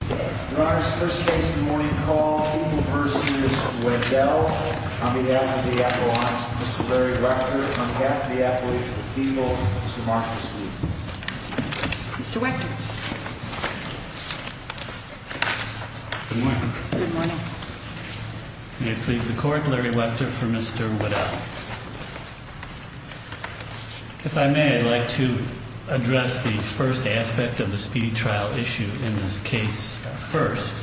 Your Honor, the first case in the morning call, Eagle v. Weddell, on behalf of the Appellant, Mr. Larry Webter, on behalf of the Appellant, Eagle, Mr. Marshall Sleet. Mr. Webter. Good morning. Good morning. May it please the Court, Larry Webter for Mr. Weddell. If I may, I'd like to address the first aspect of the speedy trial issue in this case first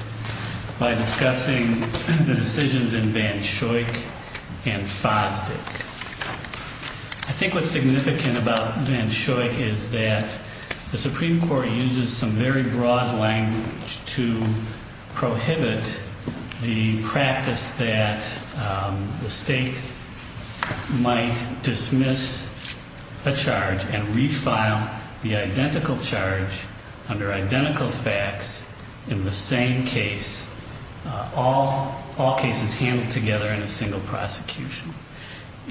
by discussing the decisions in Van Schoik and Fosdick. I think what's significant about Van Schoik is that the Supreme Court uses some very broad language to prohibit the practice that the state might dismiss a charge and refile the identical charge under identical facts in the same case, all cases handled together in a single prosecution.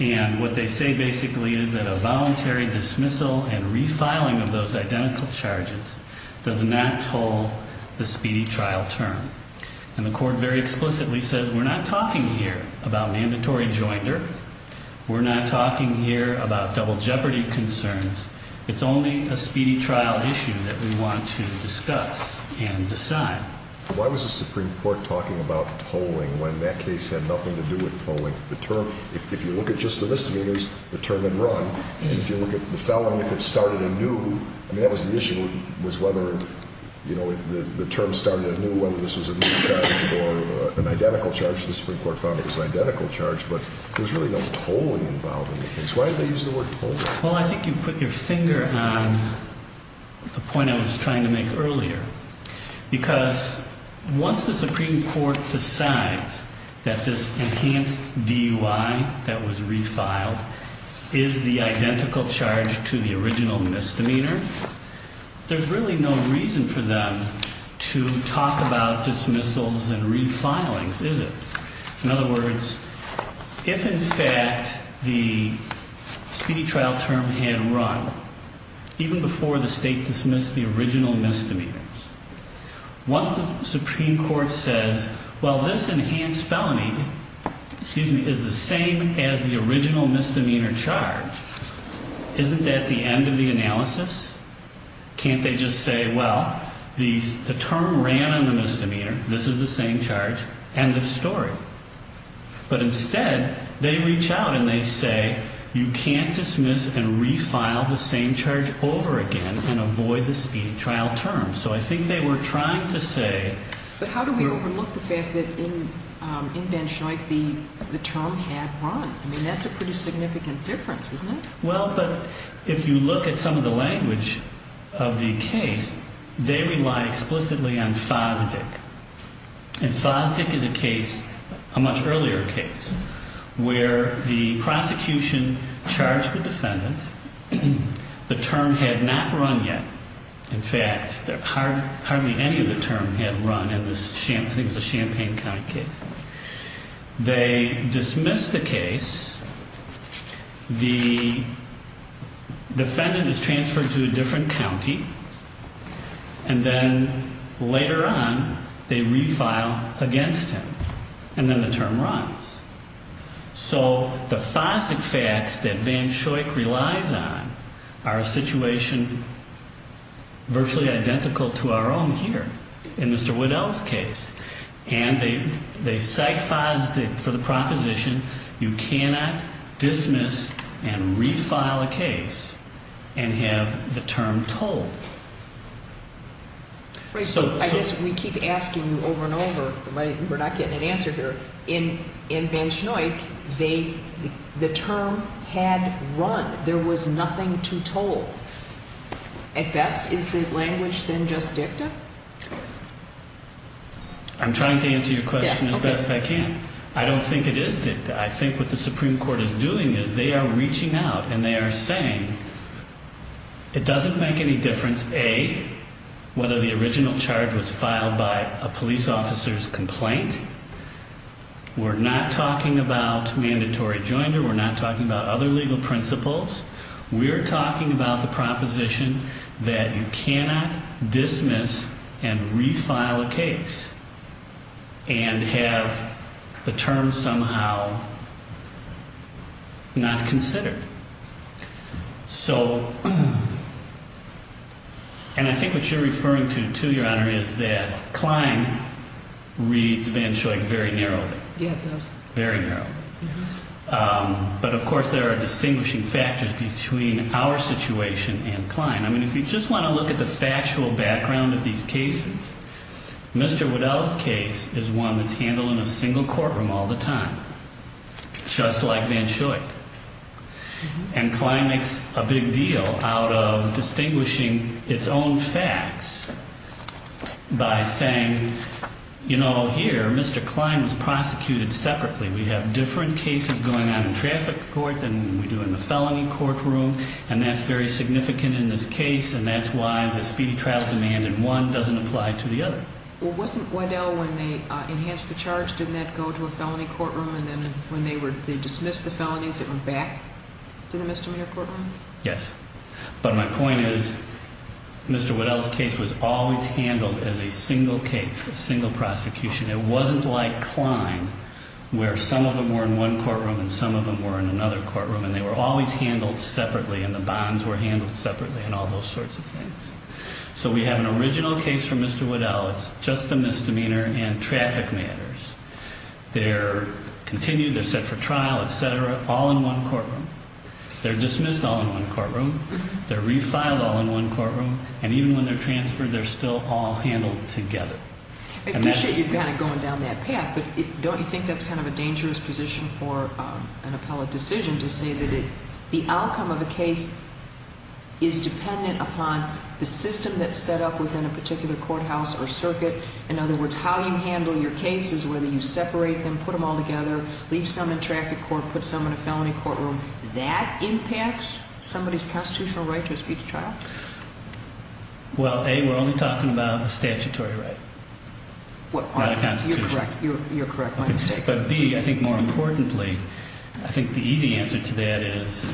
And what they say basically is that a voluntary dismissal and refiling of those identical charges does not toll the speedy trial term. And the Court very explicitly says we're not talking here about mandatory joinder. We're not talking here about double jeopardy concerns. It's only a speedy trial issue that we want to discuss and decide. Why was the Supreme Court talking about tolling when that case had nothing to do with tolling? The term, if you look at just the misdemeanors, the term had run. And if you look at the felony, if it started anew, I mean, that was the issue was whether, you know, the term started anew, whether this was a new charge or an identical charge. The Supreme Court found it was an identical charge, but there was really no tolling involved in the case. Why did they use the word tolling? Well, I think you put your finger on the point I was trying to make earlier, because once the Supreme Court decides that this enhanced DUI that was refiled is the identical charge to the original misdemeanor, there's really no reason for them to talk about dismissals and refilings, is it? In other words, if, in fact, the speedy trial term had run even before the state dismissed the original misdemeanors, once the Supreme Court says, well, this enhanced felony is the same as the original misdemeanor charge, isn't that the end of the analysis? Can't they just say, well, the term ran on the misdemeanor, this is the same charge, end of story? But instead, they reach out and they say, you can't dismiss and refile the same charge over again and avoid the speedy trial term. So I think they were trying to say... But how do we overlook the fact that in Banshoi the term had run? I mean, that's a pretty significant difference, isn't it? Well, but if you look at some of the language of the case, they rely explicitly on FOSDIC. And FOSDIC is a case, a much earlier case, where the prosecution charged the defendant, the term had not run yet. In fact, hardly any of the term had run in this, I think it was a Champaign County case. They dismiss the case. The defendant is transferred to a different county. And then later on, they refile against him. And then the term runs. So the FOSDIC facts that Banshoi relies on are a situation virtually identical to our own here in Mr. Waddell's case. And they cite FOSDIC for the proposition, you cannot dismiss and refile a case and have the term told. Right, so I guess we keep asking you over and over, but we're not getting an answer here. In Banshoi, the term had run. There was nothing to told. At best, is the language then just dicta? I'm trying to answer your question as best I can. I don't think it is dicta. I think what the Supreme Court is doing is they are reaching out and they are saying it doesn't make any difference, A, whether the original charge was filed by a police officer's complaint. We're not talking about mandatory joinder. We're not talking about other legal principles. We're talking about the proposition that you cannot dismiss and refile a case and have the term somehow not considered. So, and I think what you're referring to, too, Your Honor, is that Klein reads Banshoi very narrowly. Yeah, it does. Very narrowly. But, of course, there are distinguishing factors between our situation and Klein. I mean, if you just want to look at the factual background of these cases, Mr. Waddell's case is one that's handled in a single courtroom all the time, just like Banshoi. And Klein makes a big deal out of distinguishing its own facts by saying, you know, here, Mr. Klein was prosecuted separately. We have different cases going on in traffic court than we do in the felony courtroom, and that's very significant in this case, and that's why the speedy trial demand in one doesn't apply to the other. Well, wasn't Waddell, when they enhanced the charge, didn't that go to a felony courtroom, and then when they were, they dismissed the felonies, it went back to the Mr. Mayor courtroom? Yes. But my point is, Mr. Waddell's case was always handled as a single case, a single prosecution. It wasn't like Klein, where some of them were in one courtroom and some of them were in another courtroom, and they were always handled separately, and the bonds were handled separately, and all those sorts of things. So we have an original case for Mr. Waddell, it's just a misdemeanor in traffic matters. They're continued, they're set for trial, et cetera, all in one courtroom. They're dismissed all in one courtroom, they're refiled all in one courtroom, and even when they're transferred, they're still all handled together. I appreciate you kind of going down that path, but don't you think that's kind of a dangerous position for an appellate decision to say that the outcome of a case is dependent upon the system that's set up within a particular courthouse or circuit? In other words, how you handle your cases, whether you separate them, put them all together, leave some in traffic court, put some in a felony courtroom, that impacts somebody's constitutional right to a speedy trial? Well, A, we're only talking about a statutory right, not a constitutional right. You're correct. You're correct. My mistake. But B, I think more importantly, I think the easy answer to that is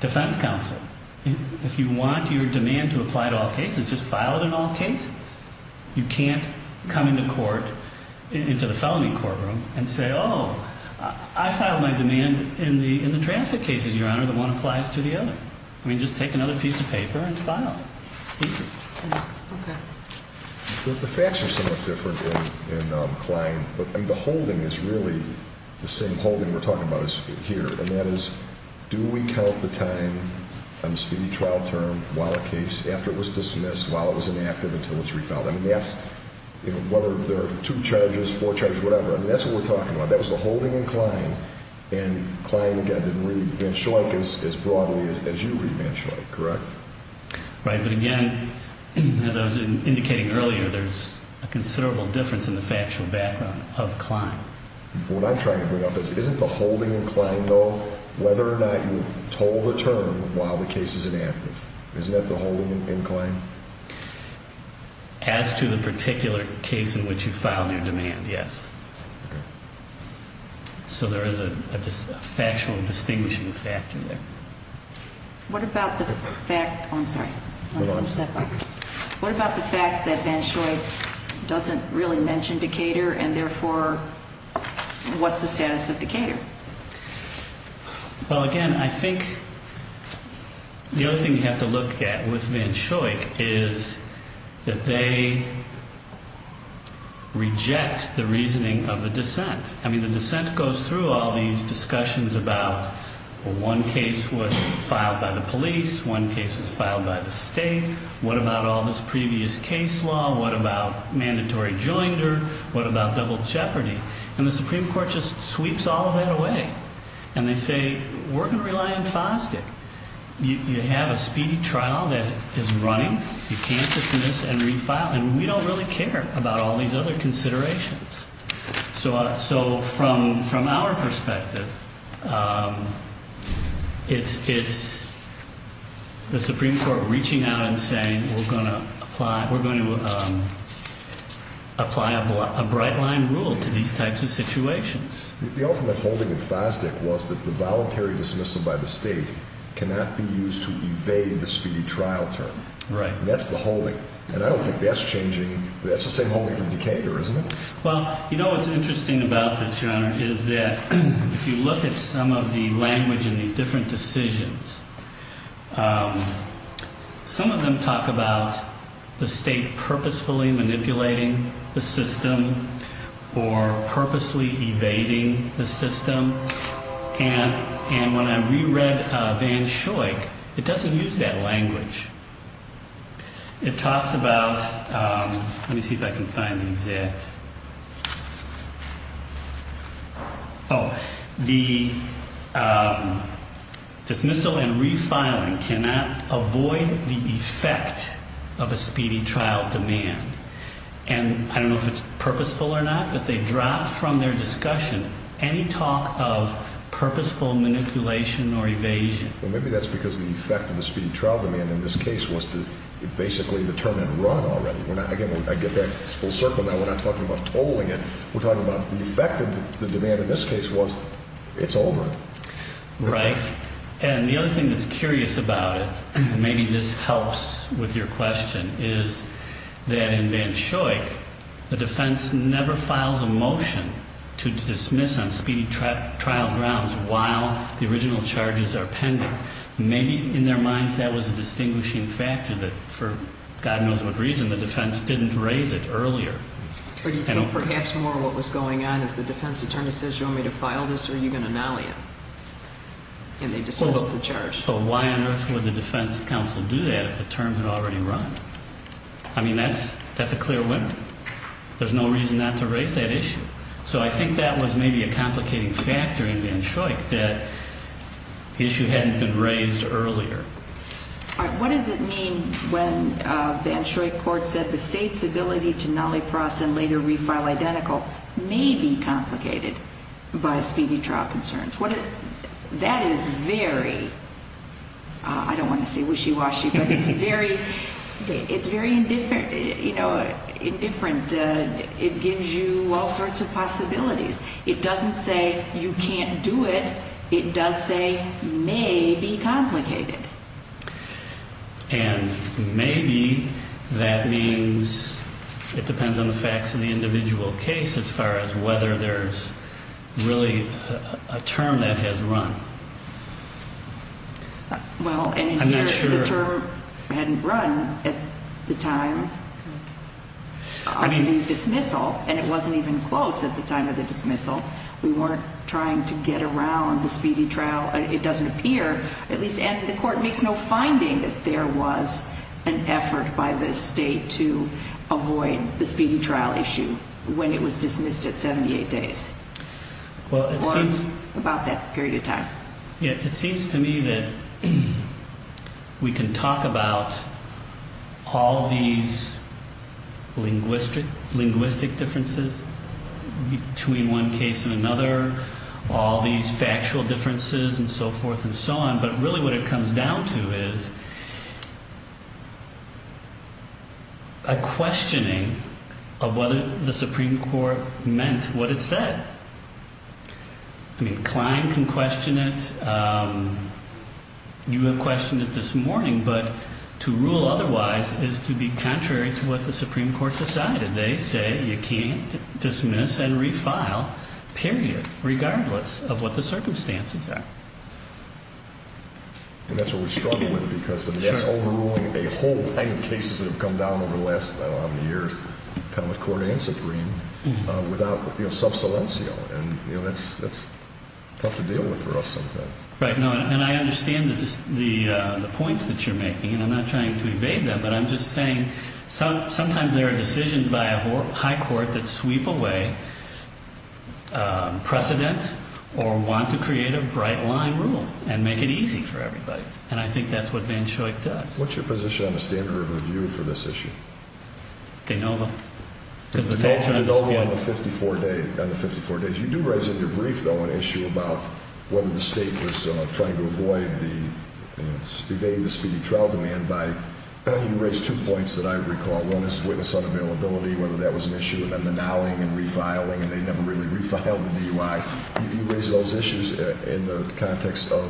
defense counsel. If you want your demand to apply to all cases, just file it in all cases. You can't come into court, into the felony courtroom, and say, oh, I filed my demand in the traffic cases, Your Honor, that one applies to the other. I mean, just take another piece of paper and file it. Okay. The facts are somewhat different in Klein, but the holding is really the same holding we're talking about here, and that is, do we count the time on the speedy trial term while a case, after it was dismissed, while it was inactive until it's refiled? I mean, that's, you know, whether there are two charges, four charges, whatever. I mean, that's what we're talking about. That was the holding in Klein, and Klein, again, didn't read Van Schoik as broadly as you read Van Schoik, correct? Right, but again, as I was indicating earlier, there's a considerable difference in the factual background of Klein. What I'm trying to bring up is, isn't the holding in Klein, though, whether or not you told the term while the case is inactive? Isn't that the holding in Klein? As to the particular case in which you filed your demand, yes. Okay. So there is a factual distinguishing factor there. What about the fact that Van Schoik doesn't really mention Decatur, and therefore, what's the status of Decatur? Well, again, I think the other thing you have to look at with Van Schoik is that they reject the reasoning of the dissent. I mean, the dissent goes through all these discussions about, well, one case was filed by the police, one case was filed by the state. What about all this previous case law? What about mandatory joinder? What about double jeopardy? And the Supreme Court just sweeps all of that away, and they say, we're going to rely on FOSDIC. You have a speedy trial that is running. You can't dismiss and refile, and we don't really care about all these other considerations. So from our perspective, it's the Supreme Court reaching out and saying, we're going to apply a bright-line rule to these types of situations. The ultimate holding of FOSDIC was that the voluntary dismissal by the state cannot be used to evade the speedy trial term. Right. That's the holding, and I don't think that's changing. That's the same holding from Decatur, isn't it? Well, you know what's interesting about this, Your Honor, is that if you look at some of the language in these different decisions, some of them talk about the state purposefully manipulating the system or purposely evading the system. And when I reread Van Schoik, it doesn't use that language. It talks about, let me see if I can find the exact, oh, the dismissal and refiling cannot avoid the effect of a speedy trial demand. And I don't know if it's purposeful or not, but they drop from their discussion any talk of purposeful manipulation or evasion. Well, maybe that's because the effect of the speedy trial demand in this case was to basically determine run already. Again, I get that full circle now. We're not talking about tolling it. We're talking about the effect of the demand in this case was it's over. Right. And the other thing that's curious about it, and maybe this helps with your question, is that in Van Schoik, the defense never files a motion to dismiss on speedy trial grounds while the original charges are pending. Maybe in their minds that was a distinguishing factor that, for God knows what reason, the defense didn't raise it earlier. But you think perhaps more what was going on is the defense attorney says you want me to file this or are you going to nolly it? And they dismiss the charge. So why on earth would the defense counsel do that if the terms had already run? I mean, that's a clear winner. There's no reason not to raise that issue. So I think that was maybe a complicating factor in Van Schoik that the issue hadn't been raised earlier. All right. What does it mean when Van Schoik court said the state's ability to nolly process and later refile identical may be complicated by speedy trial concerns? That is very, I don't want to say wishy-washy, but it's very indifferent. It gives you all sorts of possibilities. It doesn't say you can't do it. It does say may be complicated. And may be that means it depends on the facts in the individual case as far as whether there's really a term that has run. Well, and here the term hadn't run at the time of the dismissal, and it wasn't even close at the time of the dismissal. We weren't trying to get around the speedy trial. It doesn't appear, at least, and the court makes no finding that there was an effort by the state to avoid the speedy trial issue when it was dismissed at 78 days or about that period of time. It seems to me that we can talk about all these linguistic differences between one case and another, all these factual differences and so forth and so on. But really what it comes down to is a questioning of whether the Supreme Court meant what it said. I mean, Klein can question it. You have questioned it this morning. But to rule otherwise is to be contrary to what the Supreme Court decided. They say you can't dismiss and refile, period, regardless of what the circumstances are. And that's what we struggle with because that's overruling a whole line of cases that have come down over the last, I don't know how many years, Penalty Court and Supreme without sub saliencio, and that's tough to deal with for us sometimes. Right. And I understand the points that you're making, and I'm not trying to evade them, but I'm just saying sometimes there are decisions by a high court that sweep away precedent or want to create a bright line rule and make it easy for everybody. And I think that's what Van Schoik does. What's your position on the standard of review for this issue? De novo. De novo on the 54 days. You do raise in your brief, though, an issue about whether the state was trying to evade the speedy trial demand. You raised two points that I recall. One is witness unavailability, whether that was an issue, and then the nowing and refiling, and they never really refiled the DUI. You raised those issues in the context of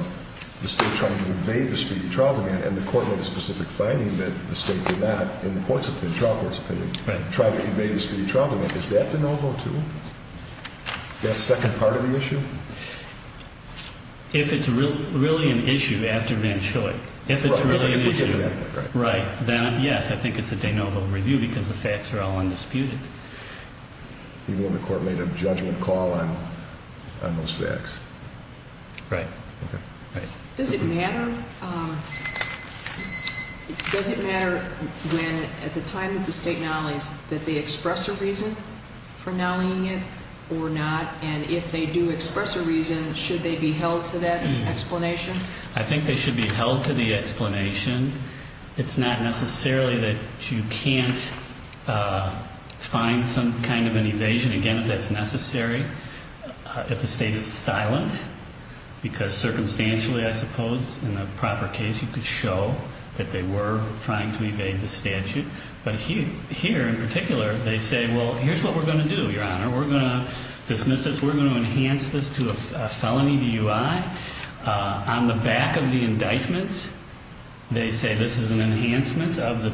the state trying to evade the speedy trial demand, and the court made a specific finding that the state did not, in the court's opinion, trial court's opinion, try to evade the speedy trial demand. Is that de novo, too? That second part of the issue? If it's really an issue after Van Schoik, if it's really an issue. Right. Yes, I think it's a de novo review because the facts are all undisputed. Even when the court made a judgment call on those facts. Right. Does it matter when, at the time that the state nolleys, that they express a reason for nolleying it or not? And if they do express a reason, should they be held to that explanation? I think they should be held to the explanation. It's not necessarily that you can't find some kind of an evasion. Again, if that's necessary. If the state is silent, because circumstantially, I suppose, in the proper case, you could show that they were trying to evade the statute. But here, in particular, they say, well, here's what we're going to do, Your Honor. We're going to dismiss this. We're going to enhance this to a felony DUI. On the back of the indictment, they say this is an enhancement of the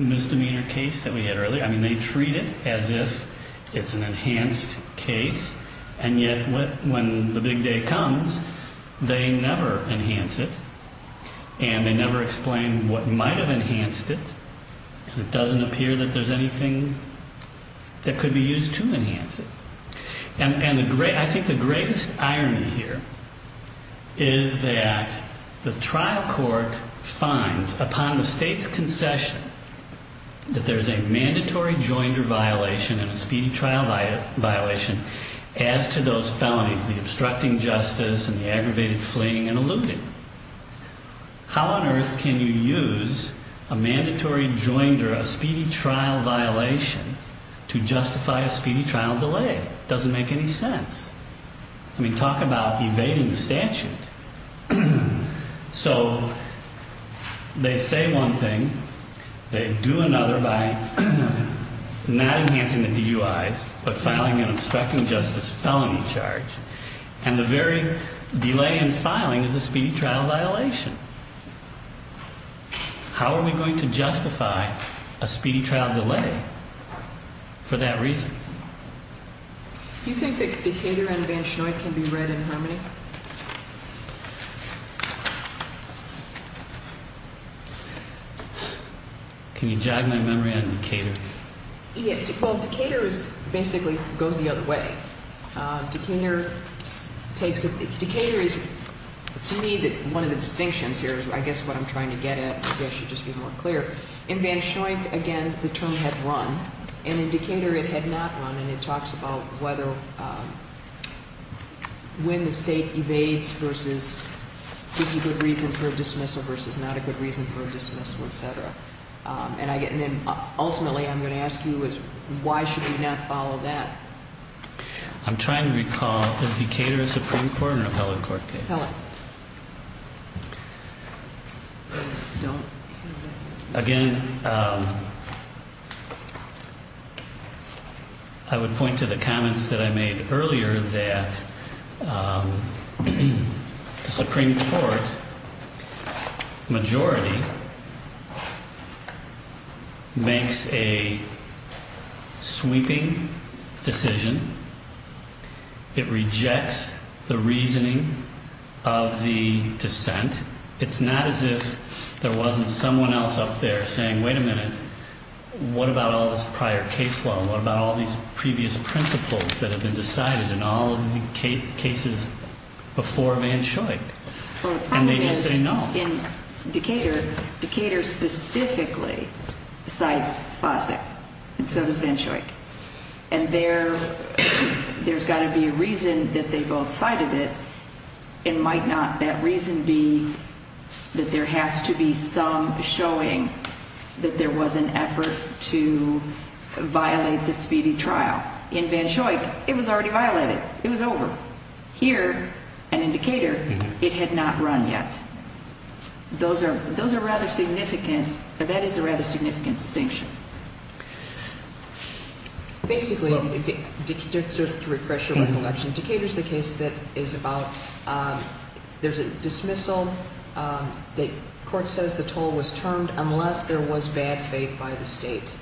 misdemeanor case that we had earlier. I mean, they treat it as if it's an enhanced case. And yet, when the big day comes, they never enhance it. And they never explain what might have enhanced it. And it doesn't appear that there's anything that could be used to enhance it. I think the greatest irony here is that the trial court finds, upon the state's concession, that there's a mandatory joinder violation and a speedy trial violation as to those felonies, the obstructing justice and the aggravated fleeing and eluding. How on earth can you use a mandatory joinder, a speedy trial violation, to justify a speedy trial delay? It doesn't make any sense. I mean, talk about evading the statute. So they say one thing. They do another by not enhancing the DUIs but filing an obstructing justice felony charge. And the very delay in filing is a speedy trial violation. How are we going to justify a speedy trial delay for that reason? Do you think that Decatur and Van Schnoit can be read in harmony? Can you jog my memory on Decatur? Well, Decatur basically goes the other way. Decatur is, to me, one of the distinctions here is I guess what I'm trying to get at. Maybe I should just be more clear. In Van Schnoit, again, the term had run, and in Decatur it had not run, and it talks about when the state evades versus 50 good reasons for a dismissal versus not a good reason for a dismissal, et cetera. And then ultimately I'm going to ask you is why should we not follow that? I'm trying to recall, is Decatur a Supreme Court or a held court case? Held. Again, I would point to the comments that I made earlier that the Supreme Court majority makes a sweeping decision. It rejects the reasoning of the dissent. It's not as if there wasn't someone else up there saying, wait a minute, what about all this prior case law? What about all these previous principles that have been decided in all of the cases before Van Schnoit? And they just say no. Well, in Decatur, Decatur specifically cites FOSTECH, and so does Van Schnoit. And there's got to be a reason that they both cited it. It might not that reason be that there has to be some showing that there was an effort to violate the speedy trial. In Van Schnoit, it was already violated. It was over. Here, and in Decatur, it had not run yet. Those are rather significant. That is a rather significant distinction. Basically, just to refresh your recollection, Decatur is the case that is about there's a dismissal. The court says the toll was termed unless there was bad faith by the state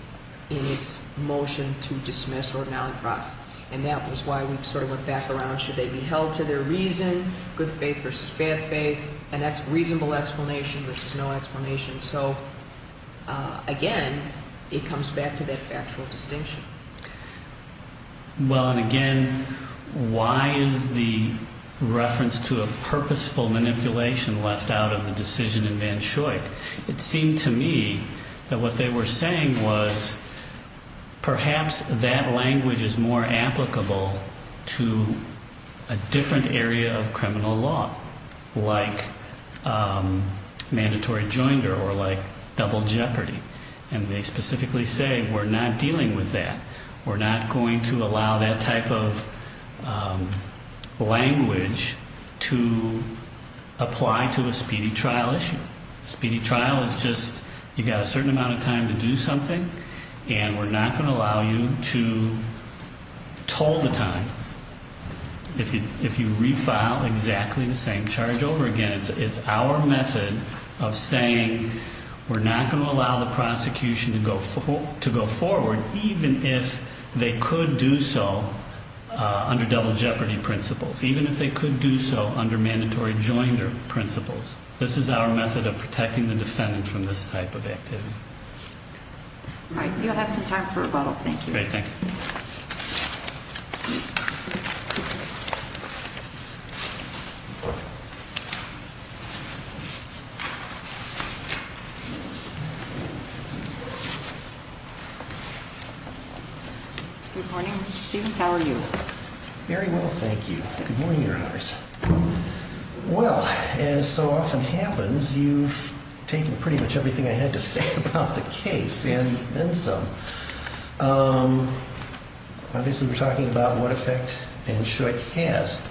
in its motion to dismiss or non-cross. And that was why we sort of looked back around. Should they be held to their reason, good faith versus bad faith, a reasonable explanation versus no explanation? So, again, it comes back to that factual distinction. Well, and again, why is the reference to a purposeful manipulation left out of the decision in Van Schnoit? It seemed to me that what they were saying was perhaps that language is more applicable to a different area of criminal law, like mandatory joinder or like double jeopardy. And they specifically say we're not dealing with that. We're not going to allow that type of language to apply to a speedy trial issue. Speedy trial is just you've got a certain amount of time to do something, and we're not going to allow you to toll the time. If you refile exactly the same charge over again, it's our method of saying we're not going to allow the prosecution to go forward, even if they could do so under double jeopardy principles, even if they could do so under mandatory joinder principles. This is our method of protecting the defendant from this type of activity. All right. You'll have some time for rebuttal. Thank you. Thank you. Good morning. How are you? Very well. Thank you. Good morning, Your Honors. Well, as so often happens, you've taken pretty much everything I had to say about the case, and then some. Obviously, we're talking about what effect NSHUIC has.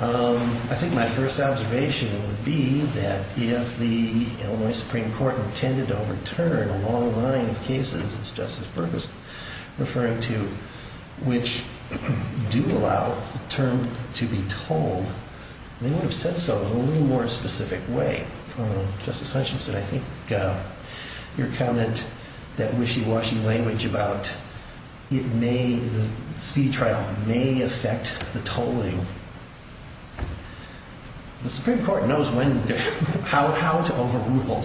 I think my first observation would be that if the Illinois Supreme Court intended to overturn a long line of cases, as Justice Burgess referred to, which do allow the term to be tolled, they would have said so in a little more specific way. Justice Hutchinson, I think your comment, that wishy-washy language about it may, the speedy trial may affect the tolling. The Supreme Court knows how to overrule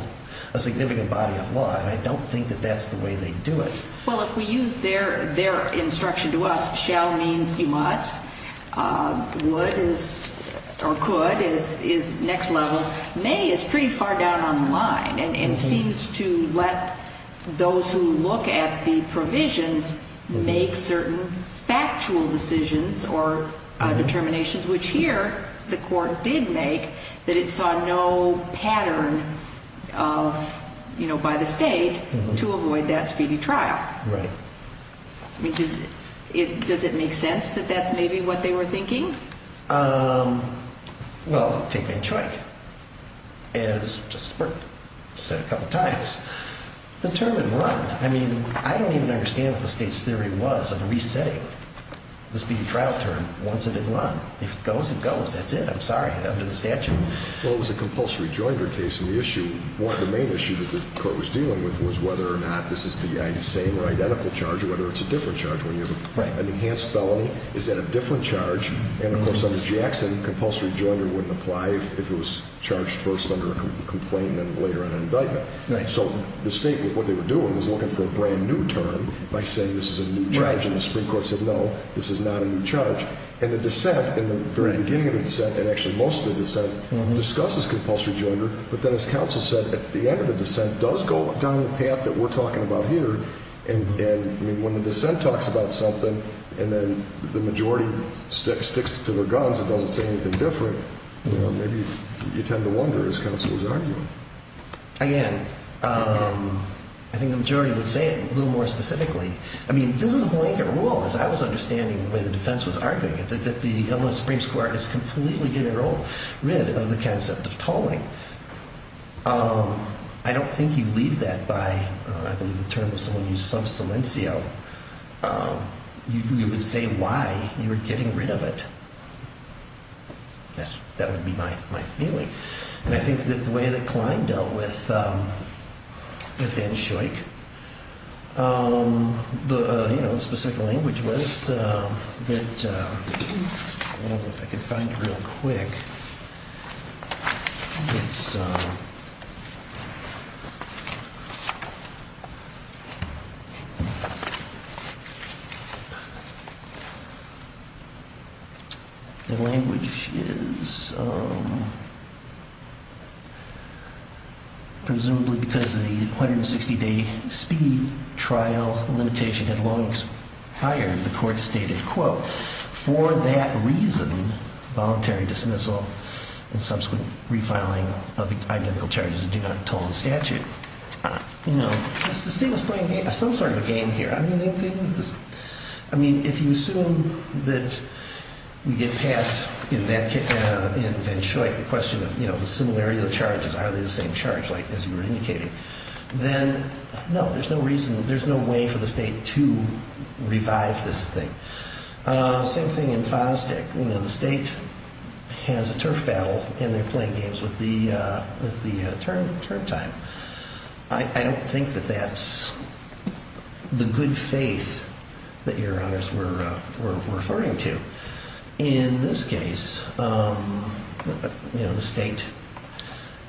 a significant body of law, and I don't think that that's the way they do it. Well, if we use their instruction to us, shall means you must, would is or could is next level. May is pretty far down on the line and seems to let those who look at the provisions make certain factual decisions or determinations, which here the court did make that it saw no pattern by the state to avoid that speedy trial. Right. Does it make sense that that's maybe what they were thinking? Well, take NSHUIC. As Justice Burgess said a couple times, the term didn't run. I mean, I don't even understand what the state's theory was of resetting the speedy trial term once it didn't run. If it goes, it goes. That's it. I'm sorry. Under the statute. Well, it was a compulsory joinder case, and the issue, the main issue that the court was dealing with was whether or not this is the same or identical charge or whether it's a different charge. Right. So the state, what they were doing was looking for a brand new term by saying this is a new charge. And the Supreme Court said, no, this is not a new charge. And the dissent, in the very beginning of the dissent, and actually most of the dissent, discusses compulsory joinder. But then as counsel said, at the end of the dissent does go down the path that we're talking about here. And then the majority sticks to their guns and doesn't say anything different. Maybe you tend to wonder, as counsel was arguing. Again, I think the majority would say it a little more specifically. I mean, this is a blanket rule, as I was understanding the way the defense was arguing it, that the Illinois Supreme Court is completely getting rid of the concept of tolling. I don't think you leave that by, I believe the term was someone used, sub silencio. You would say why you were getting rid of it. That would be my feeling. And I think that the way that Klein dealt with N. Shoik, the specific language was that, I don't know if I can find it real quick. The language is, presumably because the 160-day speed trial limitation had long expired, the court stated, quote, for that reason, voluntary dismissal and subsequent refiling of identical charges that do not toll the statute. You know, the state was playing some sort of a game here. I mean, if you assume that we get past, in N. Shoik, the question of the similarity of the charges, are they the same charge, as you were indicating, then no, there's no reason, there's no way for the state to revive this thing. Same thing in Fosdick. The state has a turf battle and they're playing games with the term time. I don't think that that's the good faith that your honors were referring to. In this case, the state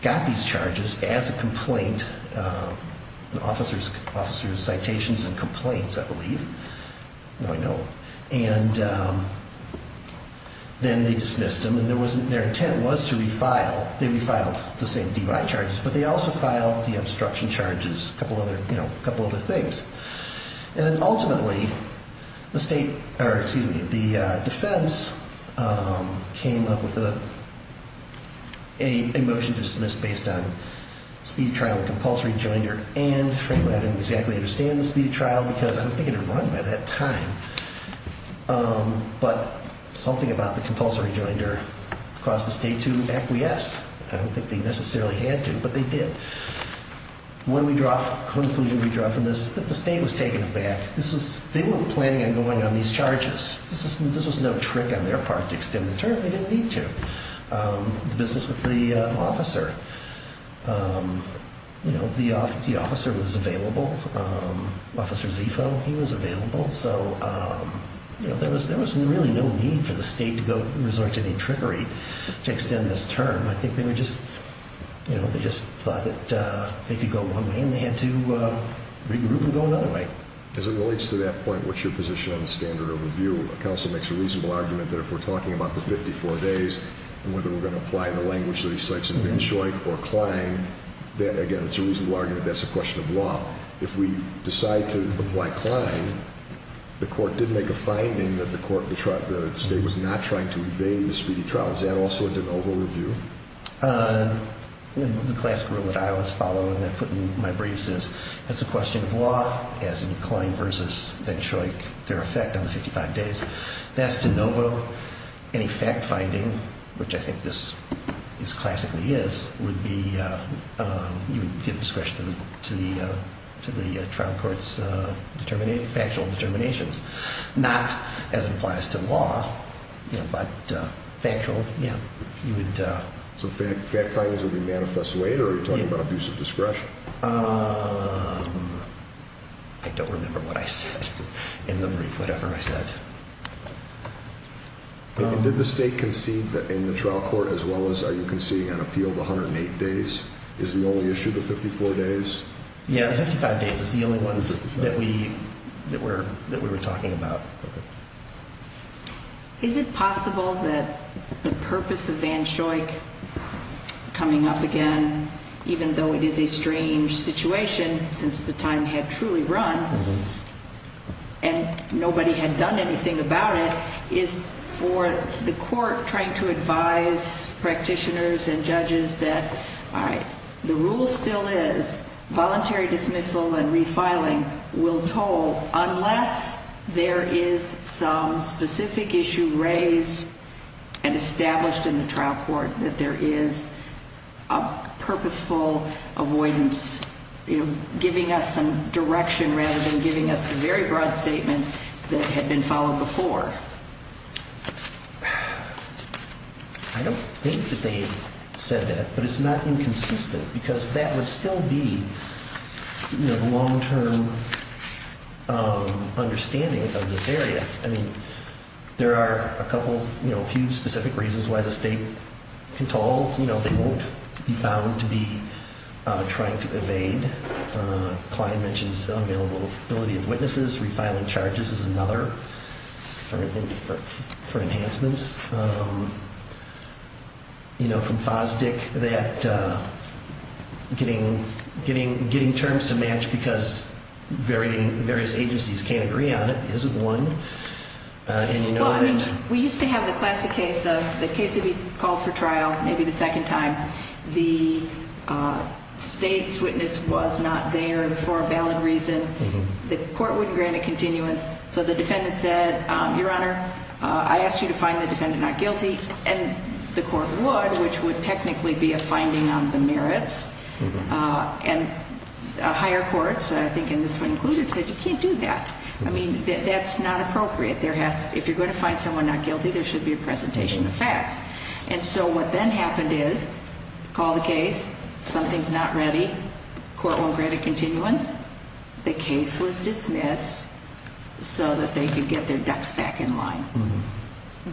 got these charges as a complaint, officers' citations and complaints, I believe. No, I know. And then they dismissed them and their intent was to refile, they refiled the same DUI charges, but they also filed the obstruction charges, a couple other things. And ultimately, the defense came up with a motion to dismiss based on speed trial and compulsory jointer and frankly, I don't exactly understand the speed trial because I don't think it had run by that time. But something about the compulsory jointer caused the state to acquiesce. I don't think they necessarily had to, but they did. When we draw a conclusion, we draw from this, that the state was taking it back. They weren't planning on going on these charges. This was no trick on their part to extend the term. They didn't need to. The business with the officer, the officer was available. Officer Zifo, he was available. So there was really no need for the state to resort to any trickery to extend this term. I think they just thought that they could go one way and they had to regroup and go another way. As it relates to that point, what's your position on the standard of review? The counsel makes a reasonable argument that if we're talking about the 54 days and whether we're going to apply the language that he cites in Van Schoik or Klein, that again, it's a reasonable argument that that's a question of law. If we decide to apply Klein, the court did make a finding that the state was not trying to evade the speedy trial. Is that also an over-review? The classic rule that I always follow and I put in my briefs is, that's a question of law as in Klein versus Van Schoik, their effect on the 55 days. That's de novo. Any fact-finding, which I think this classically is, would be you would give discretion to the trial court's factual determinations. Not as it applies to law, but factual, yeah, you would. So fact findings would be manifest way or are you talking about abuse of discretion? I don't remember what I said in the brief, whatever I said. Did the state concede in the trial court as well as are you conceding an appeal of 108 days? Is the only issue the 54 days? Yeah, the 55 days is the only ones that we were talking about. Is it possible that the purpose of Van Schoik coming up again, even though it is a strange situation since the time had truly run and nobody had done anything about it, is for the court trying to advise practitioners and judges that the rule still is voluntary dismissal and refiling will toll unless there is some specific issue raised and established in the trial court that there is a purposeful avoidance, giving us some direction rather than giving us the very broad statement that had been followed before? I don't think that they said that, but it's not inconsistent because that would still be the long-term understanding of this area. I mean, there are a couple, a few specific reasons why the state can toll. They won't be found to be trying to evade. Clyde mentions the availability of witnesses. Refiling charges is another for enhancements. You know, from Fosdick, that getting terms to match because various agencies can't agree on it is one. We used to have the classic case of the case would be called for trial maybe the second time. The state's witness was not there for a valid reason. The court wouldn't grant a continuance, so the defendant said, Your Honor, I asked you to find the defendant not guilty, and the court would, which would technically be a finding on the merits. And higher courts, I think in this one included, said you can't do that. I mean, that's not appropriate. If you're going to find someone not guilty, there should be a presentation of facts. And so what then happened is, call the case, something's not ready, court won't grant a continuance, the case was dismissed so that they could get their ducks back in line.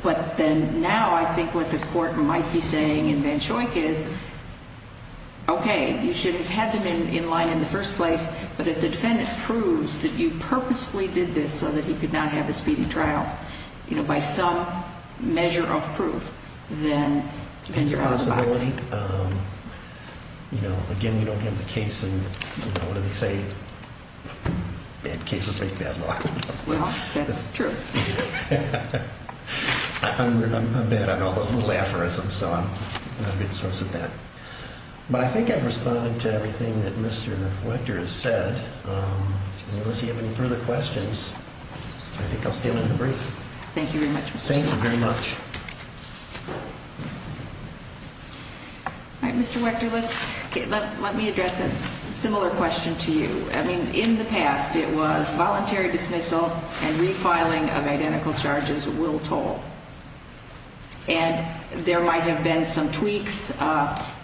But then now I think what the court might be saying in Vanshoik is, Okay, you should have had them in line in the first place, but if the defendant proves that you purposefully did this so that he could not have a speedy trial, you know, by some measure of proof, then you're out of the box. It's a possibility. And, you know, again, you don't have the case in, you know, what do they say? Bad cases make bad law. Well, that's true. I'm bad on all those little aphorisms, so I'm not a good source of that. But I think I've responded to everything that Mr. Wechter has said. Unless you have any further questions, I think I'll stay with the brief. Thank you very much, Mr. Stauffer. Thank you very much. All right, Mr. Wechter, let me address a similar question to you. I mean, in the past it was voluntary dismissal and refiling of identical charges will toll. And there might have been some tweaks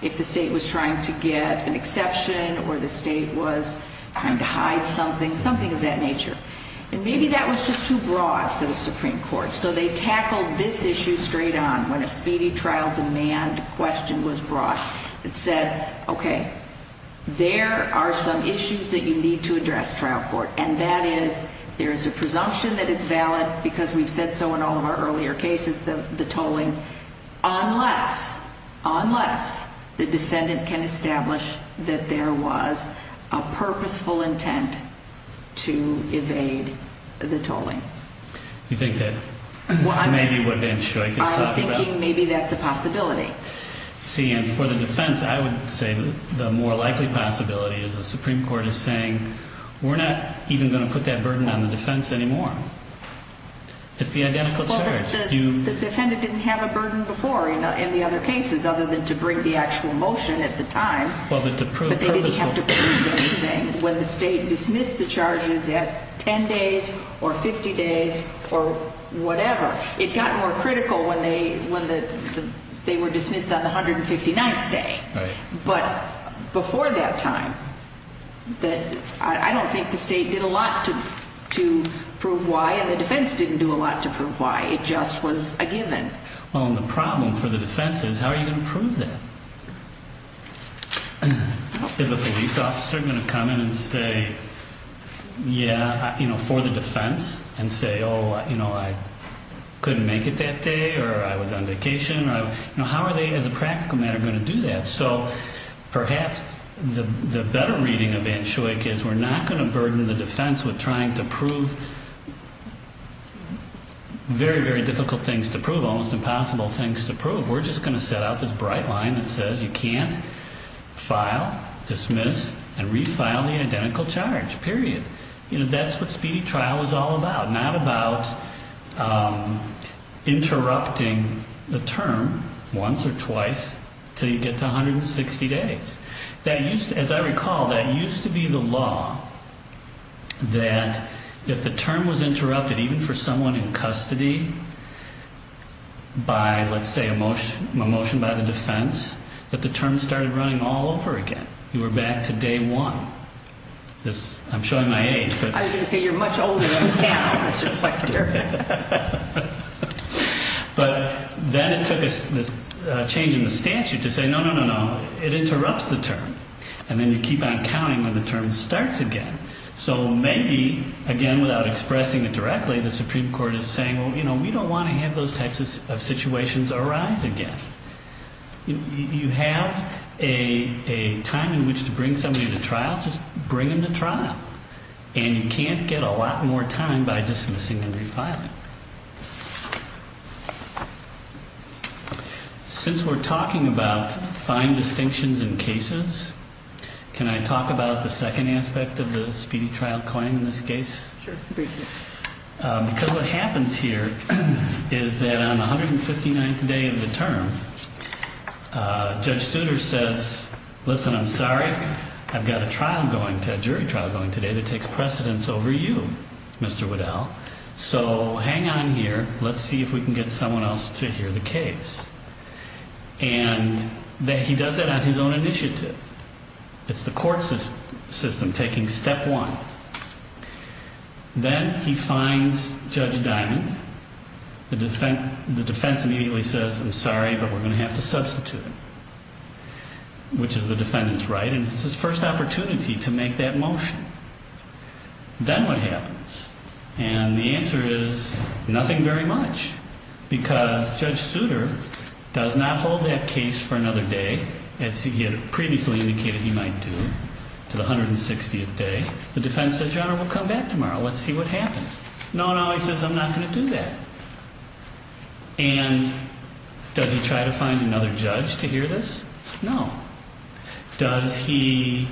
if the state was trying to get an exception or the state was trying to hide something, something of that nature. And maybe that was just too broad for the Supreme Court. So they tackled this issue straight on when a speedy trial demand question was brought that said, okay, there are some issues that you need to address, trial court, and that is there is a presumption that it's valid because we've said so in all of our earlier cases, the tolling, unless, unless the defendant can establish that there was a purposeful intent to evade the tolling. You think that maybe what Ben Shoik is talking about? I'm thinking maybe that's a possibility. See, and for the defense, I would say the more likely possibility is the Supreme Court is saying, we're not even going to put that burden on the defense anymore. It's the identical charge. The defendant didn't have a burden before in the other cases other than to bring the actual motion at the time. But they didn't have to prove anything. When the state dismissed the charges at 10 days or 50 days or whatever, it got more critical when they were dismissed on the 159th day. But before that time, I don't think the state did a lot to prove why, and the defense didn't do a lot to prove why. It just was a given. Well, and the problem for the defense is how are you going to prove that? Is a police officer going to come in and say, yeah, for the defense, and say, oh, I couldn't make it that day or I was on vacation? How are they, as a practical matter, going to do that? So perhaps the better reading of Anschuich is we're not going to burden the defense with trying to prove very, very difficult things to prove, almost impossible things to prove. We're just going to set out this bright line that says you can't file, dismiss, and refile the identical charge, period. That's what speedy trial was all about. Not about interrupting the term once or twice until you get to 160 days. As I recall, that used to be the law that if the term was interrupted, even for someone in custody by, let's say, a motion by the defense, that the term started running all over again. You were back to day one. I'm showing my age. I was going to say you're much older now, Mr. Fletcher. But then it took a change in the statute to say, no, no, no, no, it interrupts the term. And then you keep on counting when the term starts again. So maybe, again, without expressing it directly, the Supreme Court is saying, well, you know, we don't want to have those types of situations arise again. You have a time in which to bring somebody to trial, just bring them to trial. And you can't get a lot more time by dismissing and refiling. Since we're talking about fine distinctions in cases, can I talk about the second aspect of the speedy trial claim in this case? Sure. Because what happens here is that on the 159th day of the term, Judge Studer says, listen, I'm sorry. I've got a jury trial going today that takes precedence over you, Mr. Waddell. So hang on here. Let's see if we can get someone else to hear the case. And he does that on his own initiative. It's the court system taking step one. Then he finds Judge Dimond. The defense immediately says, I'm sorry, but we're going to have to substitute him, which is the defendant's right, and it's his first opportunity to make that motion. Then what happens? And the answer is nothing very much because Judge Studer does not hold that case for another day, as he had previously indicated he might do, to the 160th day. The defense says, Your Honor, we'll come back tomorrow. Let's see what happens. No, no, he says, I'm not going to do that. And does he try to find another judge to hear this? No. Does he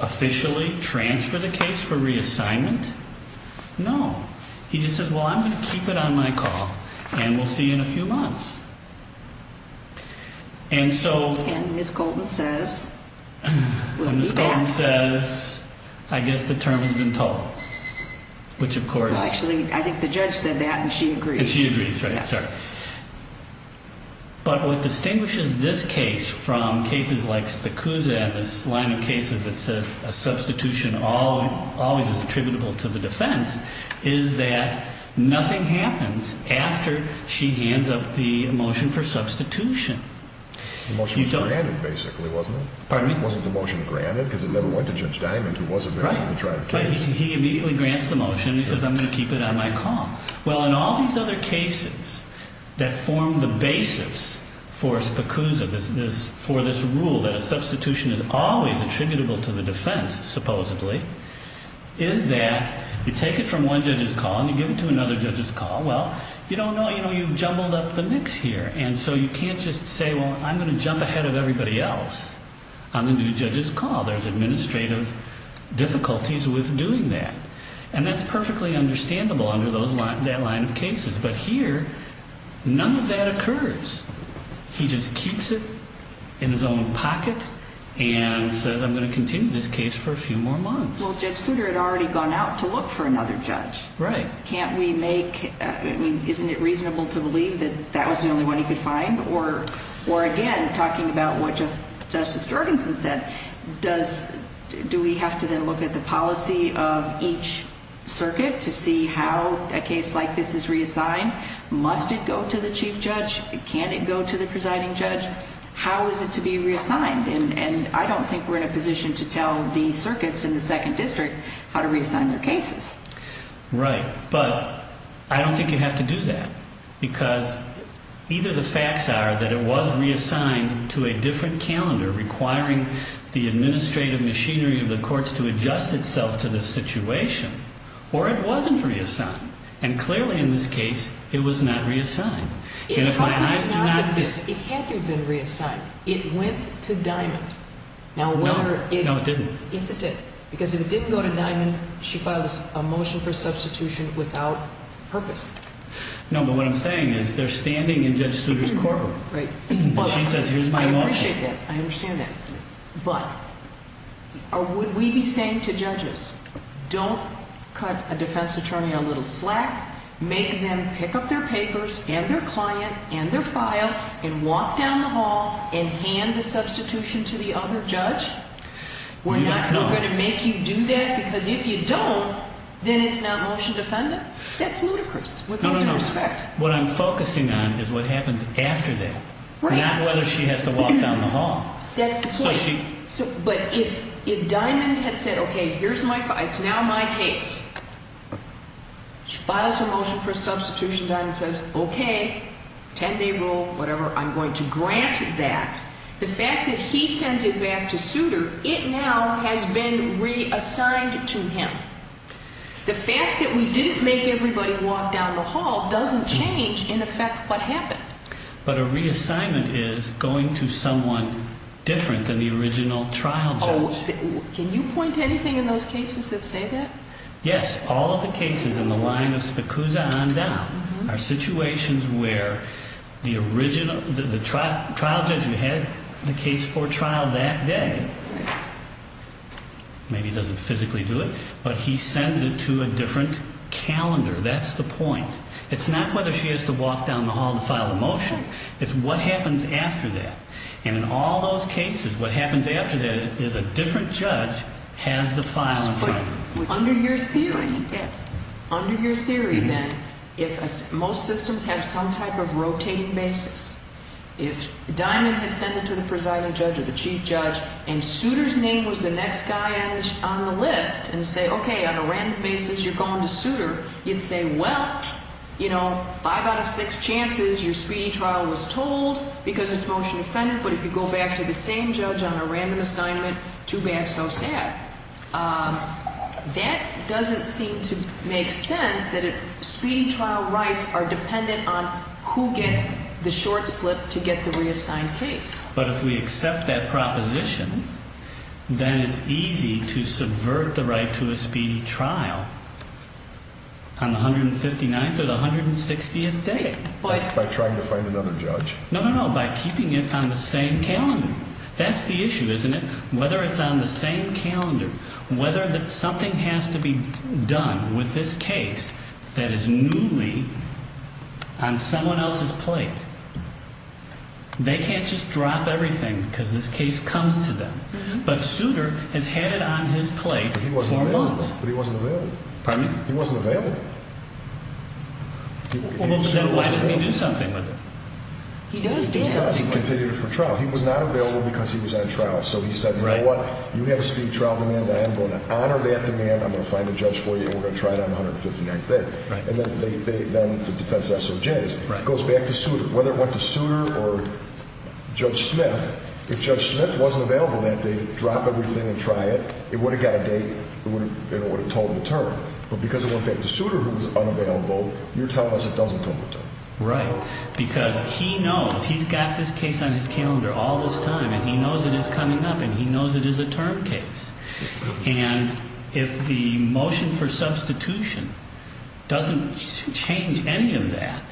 officially transfer the case for reassignment? No. He just says, Well, I'm going to keep it on my call, and we'll see you in a few months. And so Ms. Colton says, I guess the term has been told. Well, actually, I think the judge said that, and she agrees. And she agrees, right, sorry. But what distinguishes this case from cases like Spikusa and this line of cases that says a substitution always is attributable to the defense is that nothing happens after she hands up the motion for substitution. The motion was granted, basically, wasn't it? Pardon me? Wasn't the motion granted because it never went to Judge Dimond, who was a married, betrothed case? Right. He immediately grants the motion. He says, I'm going to keep it on my call. Well, in all these other cases that form the basis for Spikusa, for this rule that a substitution is always attributable to the defense, supposedly, is that you take it from one judge's call and you give it to another judge's call. Well, you don't know, you know, you've jumbled up the mix here. And so you can't just say, Well, I'm going to jump ahead of everybody else on the new judge's call. There's administrative difficulties with doing that. And that's perfectly understandable under that line of cases. But here, none of that occurs. He just keeps it in his own pocket and says, I'm going to continue this case for a few more months. Well, Judge Souter had already gone out to look for another judge. Right. Can't we make, I mean, isn't it reasonable to believe that that was the only one he could find? Or again, talking about what Justice Jorgensen said, do we have to then look at the policy of each circuit to see how a case like this is reassigned? Must it go to the chief judge? Can it go to the presiding judge? How is it to be reassigned? And I don't think we're in a position to tell the circuits in the second district how to reassign their cases. Right. But I don't think you have to do that because either the facts are that it was reassigned to a different calendar requiring the administrative machinery of the courts to adjust itself to the situation, or it wasn't reassigned. And clearly in this case, it was not reassigned. It had to have been reassigned. It went to Diamond. No, it didn't. Yes, it did. Because if it didn't go to Diamond, she filed a motion for substitution without purpose. No, but what I'm saying is they're standing in Judge Souter's courtroom. Right. And she says, here's my motion. I appreciate that. I understand that. But would we be saying to judges, don't cut a defense attorney a little slack, make them pick up their papers and their client and their file and walk down the hall and hand the substitution to the other judge? No. We're not going to make you do that because if you don't, then it's not motion defendant? That's ludicrous. With all due respect. No, no, no. What I'm focusing on is what happens after that. Right. Not whether she has to walk down the hall. That's the point. So she – But if Diamond had said, okay, here's my – it's now my case. She files her motion for substitution. Diamond says, okay, 10-day rule, whatever, I'm going to grant that. The fact that he sends it back to Souter, it now has been reassigned to him. The fact that we didn't make everybody walk down the hall doesn't change, in effect, what happened. But a reassignment is going to someone different than the original trial judge. Can you point to anything in those cases that say that? Yes. All of the cases in the line of Spikusa on down are situations where the original – the trial judge who had the case for trial that day, maybe doesn't physically do it, but he sends it to a different calendar. That's the point. It's not whether she has to walk down the hall to file a motion. It's what happens after that. And in all those cases, what happens after that is a different judge has the file in front of them. Under your theory, then, if most systems have some type of rotating basis, if Diamond had sent it to the presiding judge or the chief judge and Souter's name was the next guy on the list and say, okay, on a random basis you're going to Souter, you'd say, well, you know, five out of six chances your speedy trial was told because it's motion-defendant, but if you go back to the same judge on a random assignment, too bad, so sad. That doesn't seem to make sense that speedy trial rights are dependent on who gets the short slip to get the reassigned case. But if we accept that proposition, then it's easy to subvert the right to a speedy trial on the 159th or the 160th day. By trying to find another judge? No, no, no, by keeping it on the same calendar. That's the issue, isn't it? Whether it's on the same calendar, whether something has to be done with this case that is newly on someone else's plate, they can't just drop everything because this case comes to them. But Souter has had it on his plate for months. But he wasn't available. Pardon me? He wasn't available. He does do something with it. He was not available because he was on trial. So he said, you know what? You have a speedy trial demand. I'm going to honor that demand. I'm going to find a judge for you, and we're going to try it on the 159th day. And then the defense SOJs. It goes back to Souter. Whether it went to Souter or Judge Smith, if Judge Smith wasn't available that day to drop everything and try it, it would have got a date, and it would have told him the term. But because it went back to Souter, who was unavailable, you're telling us it doesn't tell him the term. Right. Because he knows. He's got this case on his calendar all this time, and he knows it is coming up, and he knows it is a term case. And if the motion for substitution doesn't change any of that,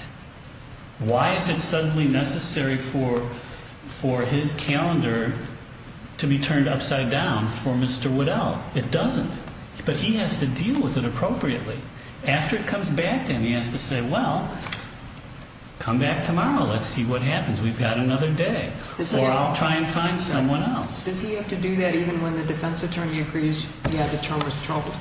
why is it suddenly necessary for his calendar to be turned upside down for Mr. Waddell? It doesn't. But he has to deal with it appropriately. After it comes back, then he has to say, well, come back tomorrow. Let's see what happens. We've got another day. Or I'll try and find someone else. Does he have to do that even when the defense attorney agrees, yeah, the term was troubled?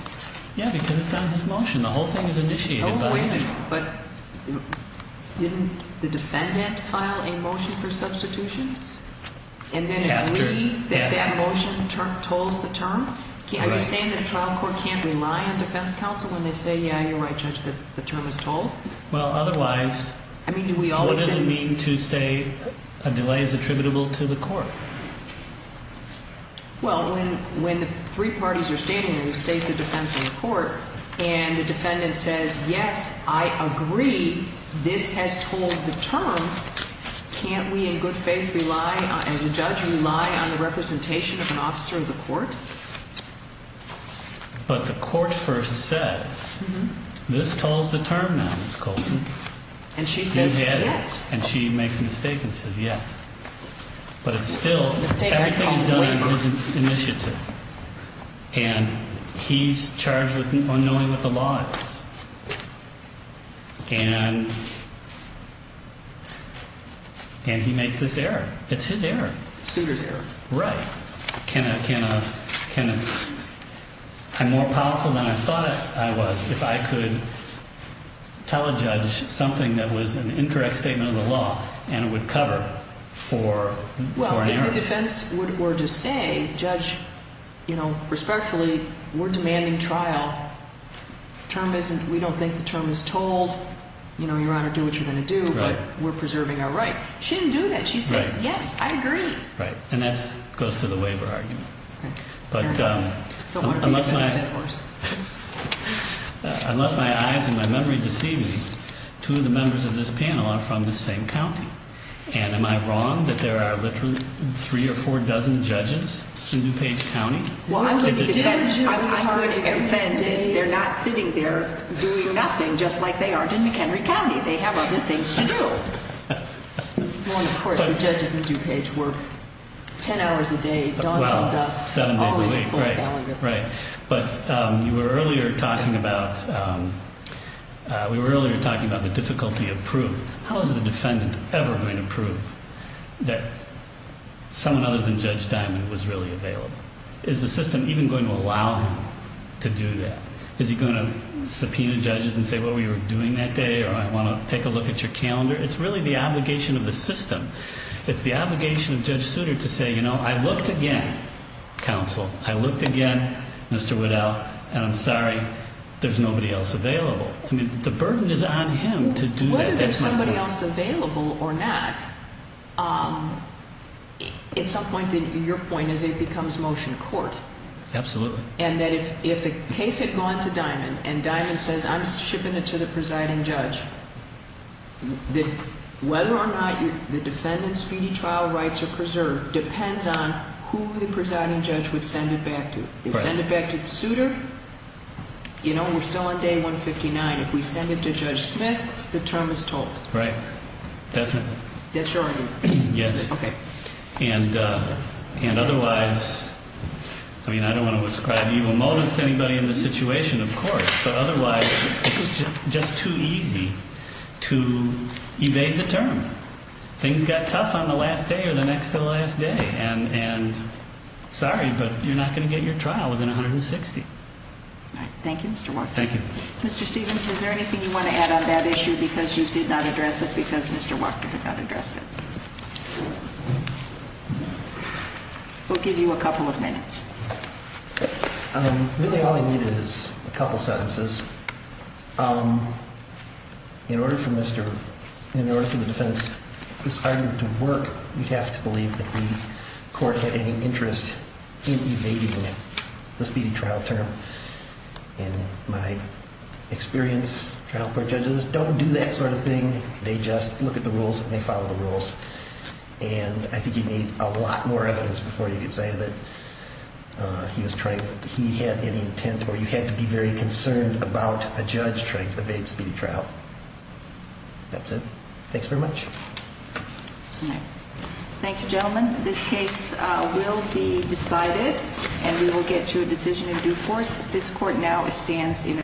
Yeah, because it's on his motion. The whole thing is initiated by him. Oh, wait a minute. But didn't the defendant file a motion for substitution? And then it would be that that motion tolls the term? Are you saying that a trial court can't rely on defense counsel when they say, yeah, you're right, Judge, the term is told? Well, otherwise, what does it mean to say a delay is attributable to the court? Well, when the three parties are standing there, you state the defense in the court, and the defendant says, yes, I agree, this has told the term, can't we in good faith rely, as a judge, rely on the representation of an officer of the court? But the court first says, this told the term now, Ms. Colton. And she says yes. And she makes a mistake and says yes. But it's still, everything is done in his initiative. And he's charged with unknowing what the law is. And he makes this error. It's his error. The suitor's error. Right. Can I, I'm more powerful than I thought I was if I could tell a judge something that was an incorrect statement of the law and it would cover for an error. The defense were to say, Judge, you know, respectfully, we're demanding trial. The term isn't, we don't think the term is told. You know, Your Honor, do what you're going to do, but we're preserving our right. She didn't do that. She said, yes, I agree. Right. And that goes to the waiver argument. But unless my eyes and my memory deceive me, two of the members of this panel are from the same county. And am I wrong that there are literally three or four dozen judges in DuPage County? Well, I'm going to defend it. They're not sitting there doing nothing just like they aren't in McHenry County. They have other things to do. Well, of course, the judges in DuPage were ten hours a day, dawn till dusk, always a full calendar. Right. But you were earlier talking about, we were earlier talking about the difficulty of proof. How is the defendant ever going to prove that someone other than Judge Diamond was really available? Is the system even going to allow him to do that? Is he going to subpoena judges and say, well, we were doing that day, or I want to take a look at your calendar? It's really the obligation of the system. It's the obligation of Judge Souter to say, you know, I looked again, counsel. I looked again, Mr. Waddell, and I'm sorry, there's nobody else available. I mean, the burden is on him to do that. Whether there's somebody else available or not, at some point, your point is it becomes motion court. Absolutely. And that if the case had gone to Diamond and Diamond says, I'm shipping it to the presiding judge, whether or not the defendant's fee trial rights are preserved depends on who the presiding judge would send it back to. Right. They send it back to Souter, you know, we're still on day 159. If we send it to Judge Smith, the term is told. Right. Definitely. That's your argument? Yes. Okay. And otherwise, I mean, I don't want to ascribe evil motives to anybody in this situation, of course, but otherwise it's just too easy to evade the term. Things got tough on the last day or the next to the last day, and sorry, but you're not going to get your trial within 160. All right. Thank you, Mr. Waddell. Thank you. Mr. Stevens, is there anything you want to add on that issue? Because you did not address it because Mr. Walker did not address it. We'll give you a couple of minutes. Really all I need is a couple sentences. In order for the defense, this argument to work, you'd have to believe that the court had any interest in evading the speedy trial term. In my experience, trial court judges don't do that sort of thing. They just look at the rules and they follow the rules. And I think you need a lot more evidence before you can say that he was trying, he had any intent, or you had to be very concerned about a judge trying to evade speedy trial. That's it. Thanks very much. All right. Thank you, gentlemen. This case will be decided, and we will get to a decision in due course. This court now stands in a